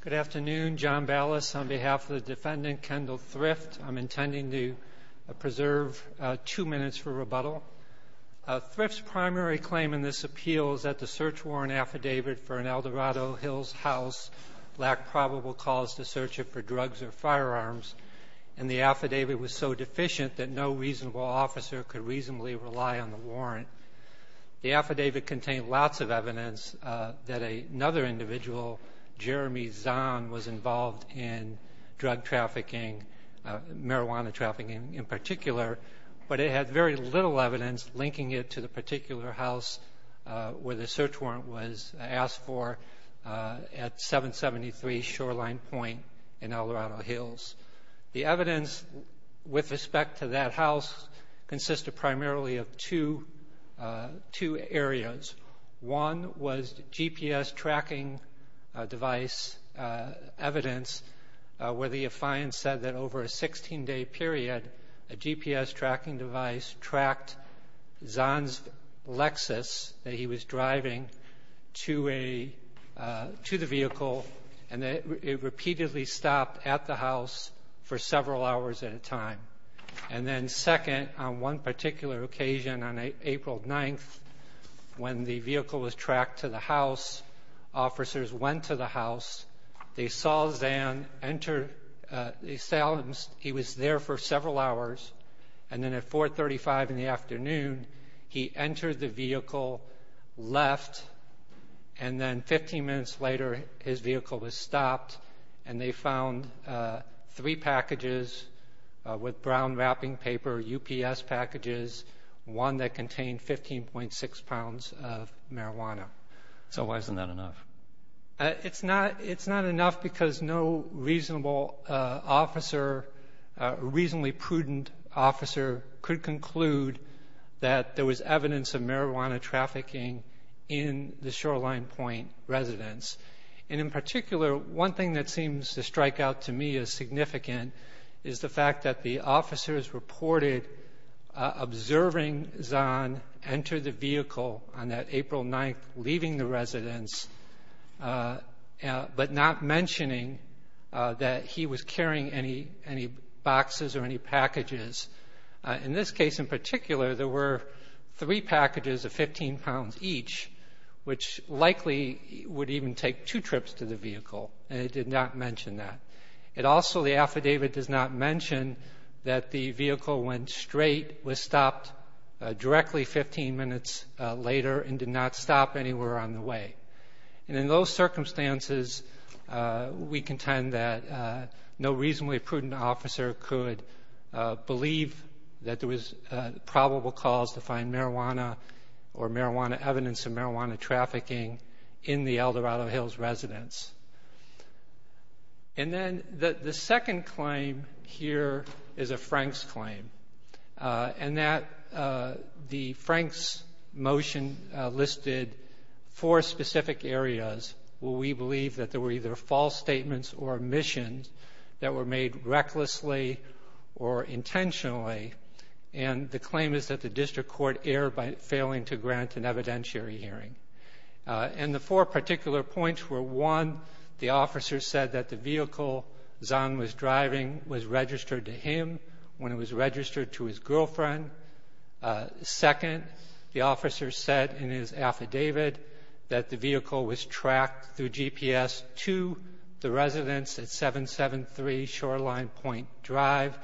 Good afternoon. John Ballas on behalf of the defendant, Kendall Thrift. I'm intending to preserve two minutes for rebuttal. Thrift's primary claim in this appeal is that the search warrant affidavit for an Eldorado Hills house lacked probable cause to search it for drugs or firearms, and the affidavit was so deficient that no reasonable officer could reasonably rely on the warrant. The affidavit contained lots of evidence that another individual, Jeremy Zahn, was involved in drug trafficking, marijuana trafficking in particular, but it had very little evidence linking it to the particular house where the search warrant was asked for at 773 Shoreline Point in Eldorado Hills. The evidence with respect to that house consisted primarily of two areas. One was GPS tracking device evidence where the affiant said that over a 16-day period, a GPS tracking device tracked Zahn's Lexus that he was driving to a to the vehicle, and it repeatedly stopped at the house for several hours at a time. And then second, on one particular occasion, on April 9th, when the vehicle was tracked to the house, officers went to the house, they saw Zahn enter, they saw him, he was there for several hours, and then at 435 in the afternoon, he entered the vehicle, left, and then 15 minutes later his vehicle was stopped, and they found three packages with brown wrapping paper, UPS packages, one that contained 15.6 pounds of marijuana. So why isn't that enough? It's not enough because no reasonable officer, reasonably prudent officer, could conclude that there was evidence of marijuana trafficking in the Shoreline Point residence. And in the fact that the officers reported observing Zahn enter the vehicle on that April 9th, leaving the residence, but not mentioning that he was carrying any boxes or any packages. In this case in particular, there were three packages of 15 pounds each, which likely would even take two trips to the vehicle, and it did not mention that. It also, the affidavit does not mention that the vehicle went straight, was stopped directly 15 minutes later, and did not stop anywhere on the way. And in those circumstances, we contend that no reasonably prudent officer could believe that there was probable cause to find marijuana or marijuana evidence of marijuana trafficking in the El Dorado Hills residence. And then the second claim here is a Frank's claim, and that the Frank's motion listed four specific areas where we believe that there were either false statements or omissions that were made recklessly or intentionally, and the claim is that the district court erred by failing to grant an evidentiary hearing. And the four particular points were one, the officer said that the vehicle Zahn was driving was registered to him when it was registered to his girlfriend. Second, the officer said in his affidavit that the vehicle was tracked through GPS to the residence at 773 Shoreline Point Drive,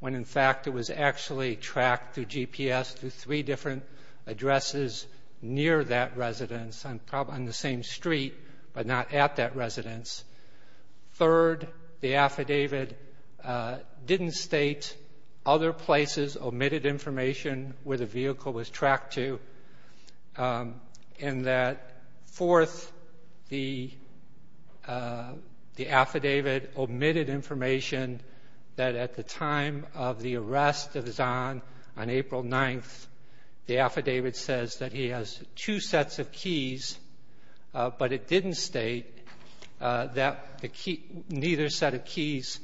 when in fact it was actually tracked through GPS to three different addresses near that residence on the same street, but not at that residence. Third, the affidavit didn't state other places omitted information where the vehicle was time of the arrest of Zahn on April 9th, the affidavit says that he has two sets of keys, but it didn't state that the key ñ neither set of keys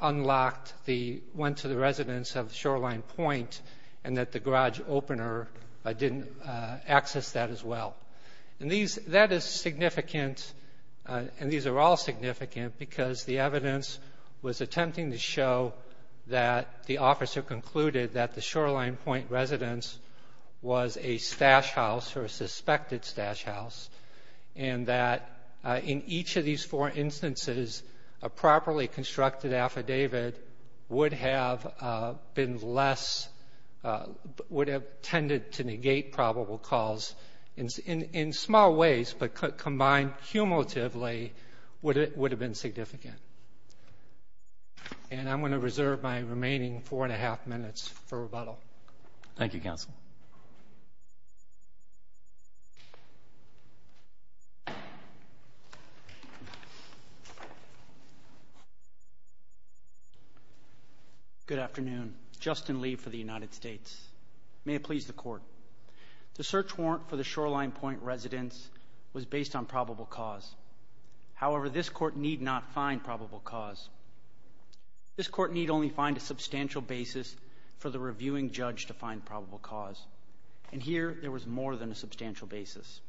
unlocked the ñ went to the residence of Shoreline Point and that the garage opener didn't access that as well. And these ñ that is significant, and these are all significant, because the evidence was attempting to show that the officer concluded that the Shoreline Point residence was a stash house or a suspected stash house and that in each of these four instances a properly constructed affidavit would have been less ñ would have tended to negate probable cause in small ways, but combined cumulatively would have been significant. And I'm going to reserve my remaining four and a half minutes for rebuttal. Thank you, Counsel. Good afternoon. Justin Lee for the United States. May it please the Court. The search warrant for the Shoreline Point residence was based on probable cause. However, this Court need not find probable cause. This Court need only find a substantial basis for the reviewing judge to find probable cause. And here there was more than a substantial basis.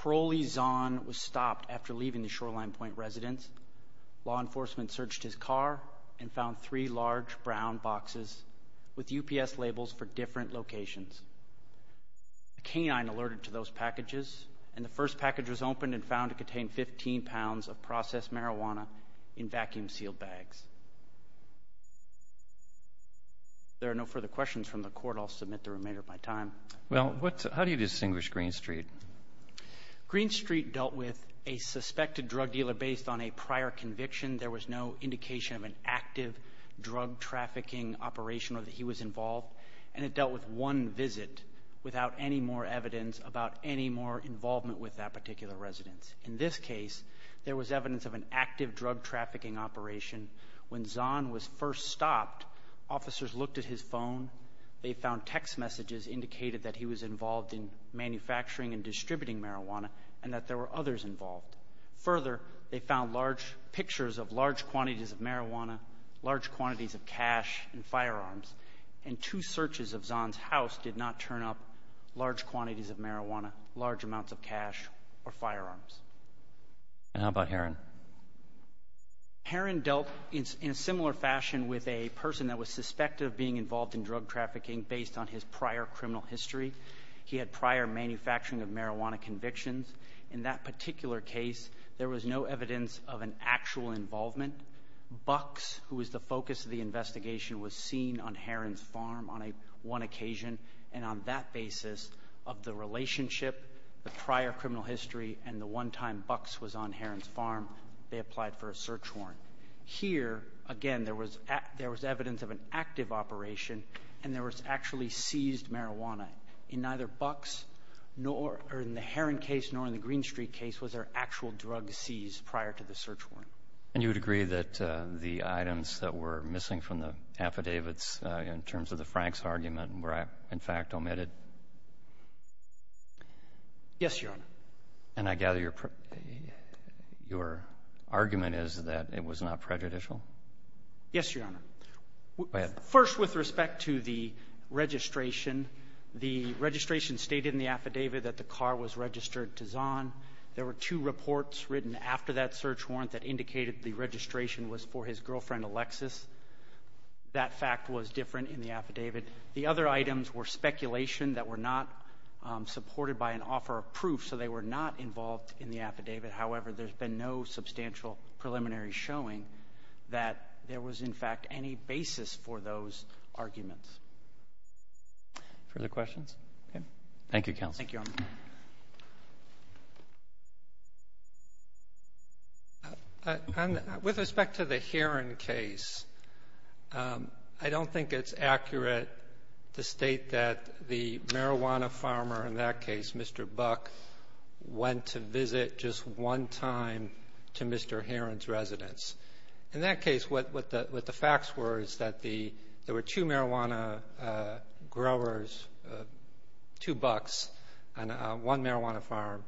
Parolee Zahn was stopped after leaving the Shoreline Point residence. Law enforcement searched his car and found three large brown boxes with UPS labels for different locations. A canine alerted to those packages, and the first package was opened and found to contain 15 pounds of processed marijuana in vacuum-sealed bags. If there are no further questions from the Court, I'll submit the remainder of my time. Well, what ñ how do you distinguish Green Street? Green Street dealt with a suspected drug dealer based on a prior conviction. There was no indication of an active drug-trafficking operation or that he was involved. And it dealt with one visit without any more evidence about any more involvement with that particular residence. In this case, there was evidence of an active drug-trafficking operation. When Zahn was first stopped, officers looked at his phone. They found text messages indicating that he was involved in manufacturing and distributing marijuana and that there were others involved. Further, they found large pictures of large quantities of marijuana, large quantities of cash and firearms. And two searches of Zahn's house did not turn up large quantities of marijuana, large amounts of cash or firearms. And how about Heron? Heron dealt in a similar fashion with a person that was suspected of being involved in drug-trafficking based on his prior criminal history. He had prior manufacturing of marijuana convictions. In that particular case, there was no evidence of an actual involvement. Bucks, who was the focus of the investigation, was seen on Heron's farm on one occasion. And on that basis of the relationship, the prior criminal history, and the one time Bucks was on Heron's farm, they applied for a search warrant. Here, again, there was evidence of an active operation, and there was actually seized marijuana. In neither Bucks nor in the Heron case nor in the Green Street case was there actual drug seized prior to the search warrant. And you would agree that the items that were missing from the affidavits in terms of the Franks argument were, in fact, omitted? Yes, Your Honor. And I gather your argument is that it was not prejudicial? Yes, Your Honor. Go ahead. First, with respect to the registration, the registration stated in the affidavit that the car was registered to Zahn. There were two reports written after that search warrant that indicated the registration was for his girlfriend, Alexis. That fact was different in the affidavit. The other items were speculation that were not supported by an offer of proof, so they were not involved in the affidavit. However, there's been no substantial preliminary showing that there was, in fact, any basis for those arguments. Further questions? Okay. Thank you, counsel. Thank you, Your Honor. With respect to the Heron case, I don't think it's accurate to state that the marijuana farmer in that case, Mr. Buck, went to visit just one time to Mr. Heron's residence. In that case, what the facts were is that there were two marijuana growers, two Bucks and one marijuana farm,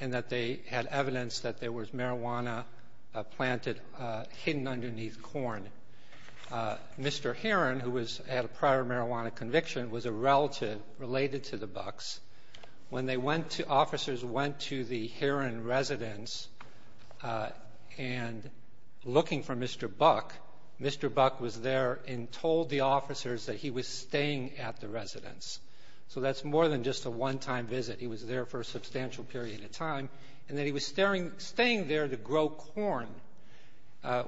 and that they had evidence that there was marijuana planted hidden underneath corn. Mr. Heron, who was at a prior marijuana conviction, was a relative related to the Bucks. When they went to the Heron residence and looking for Mr. Buck, Mr. Buck was there and told the officers that he was staying at the residence. So that's more than just a one-time visit. He was there for a substantial period of time, and that he was staying there to grow corn,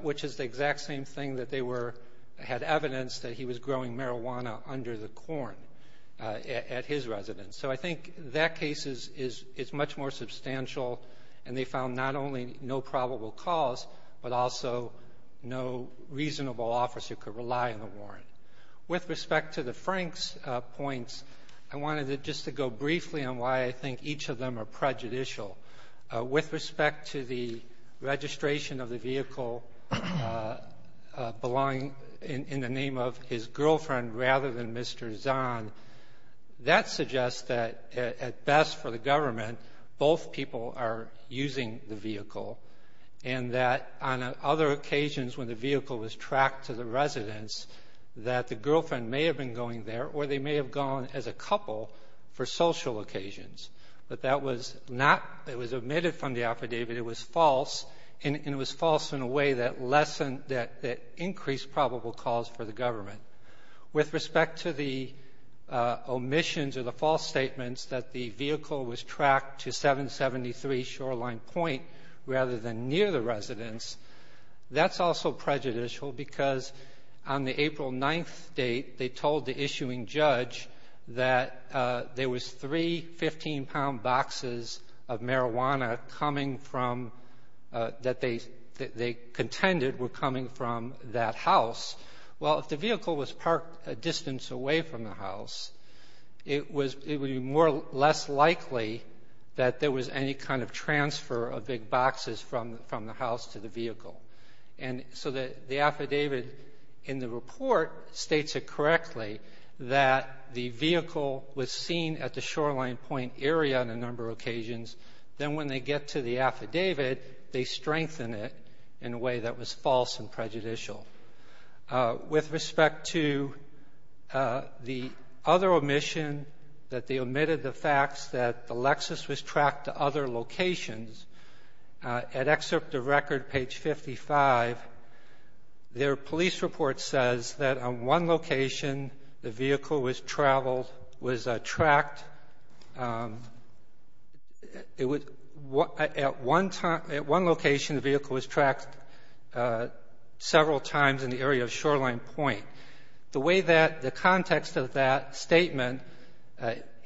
which is the exact same thing that they were — had evidence that he was growing marijuana under the corn at his residence. So I think that case is much more substantial, and they found not only no probable cause, but also no reasonable officer could rely on the warrant. With respect to the Franks points, I wanted just to go briefly on why I think each of them are prejudicial. With respect to the registration of the vehicle belonging in the name of his girlfriend rather than Mr. Zahn, that suggests that, at best for the government, both people are using the vehicle, and that on other occasions when the vehicle was tracked to the residence, that the girlfriend may have been going there or they may have gone as a couple for social occasions. But that was not — it was omitted from the affidavit. It was false, and it was false in a way that lessened — that increased probable cause for the government. With respect to the omissions or the false statements that the vehicle was tracked to 773 Shoreline Point rather than near the residence, that's also prejudicial because on the April 9th date, they told the issuing judge that there was three 15-pound boxes of marijuana coming from — that they contended were coming from that house. Well, if the vehicle was parked a distance away from the house, it was — it would be more — less likely that there was any kind of transfer of big boxes from — from the house to the vehicle. And so the affidavit in the report states it correctly that the vehicle was seen at the Shoreline Point area on a number of occasions. Then when they get to the affidavit, they strengthen it in a way that was false and prejudicial. With respect to the other omission, that they omitted the facts that the Lexus was tracked to other locations, at excerpt of record, page 55, their police report says that on one location, the vehicle was traveled — was tracked — it was — at one time — at one location, the vehicle was tracked several times in the area of Shoreline Point. The way that the context of that statement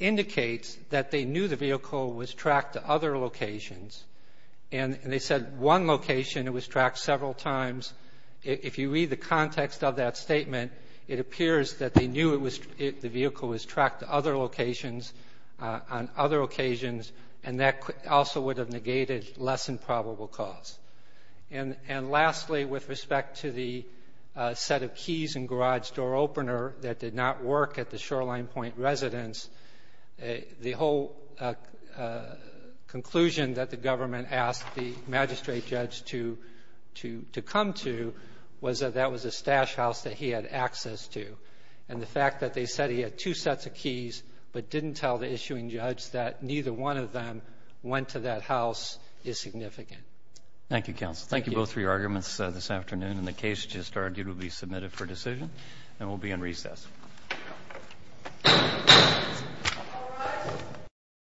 indicates is that they knew the vehicle was tracked to other locations, and they said one location, it was tracked several times. If you read the context of that statement, it appears that they knew it was — the vehicle was tracked to other locations on other occasions, and that also would have negated less than probable cause. And lastly, with respect to the set of keys and garage door opener that did not work at the Shoreline Point residence, the whole conclusion that the government asked the magistrate judge to — to come to was that that was a stash house that he had access to. And the fact that they said he had two sets of keys but didn't tell the issuing judge that neither one of them went to that house is significant. Thank you. Thank you, counsel. Thank you both for your arguments this afternoon. And the case just argued will be submitted for decision and will be in recess.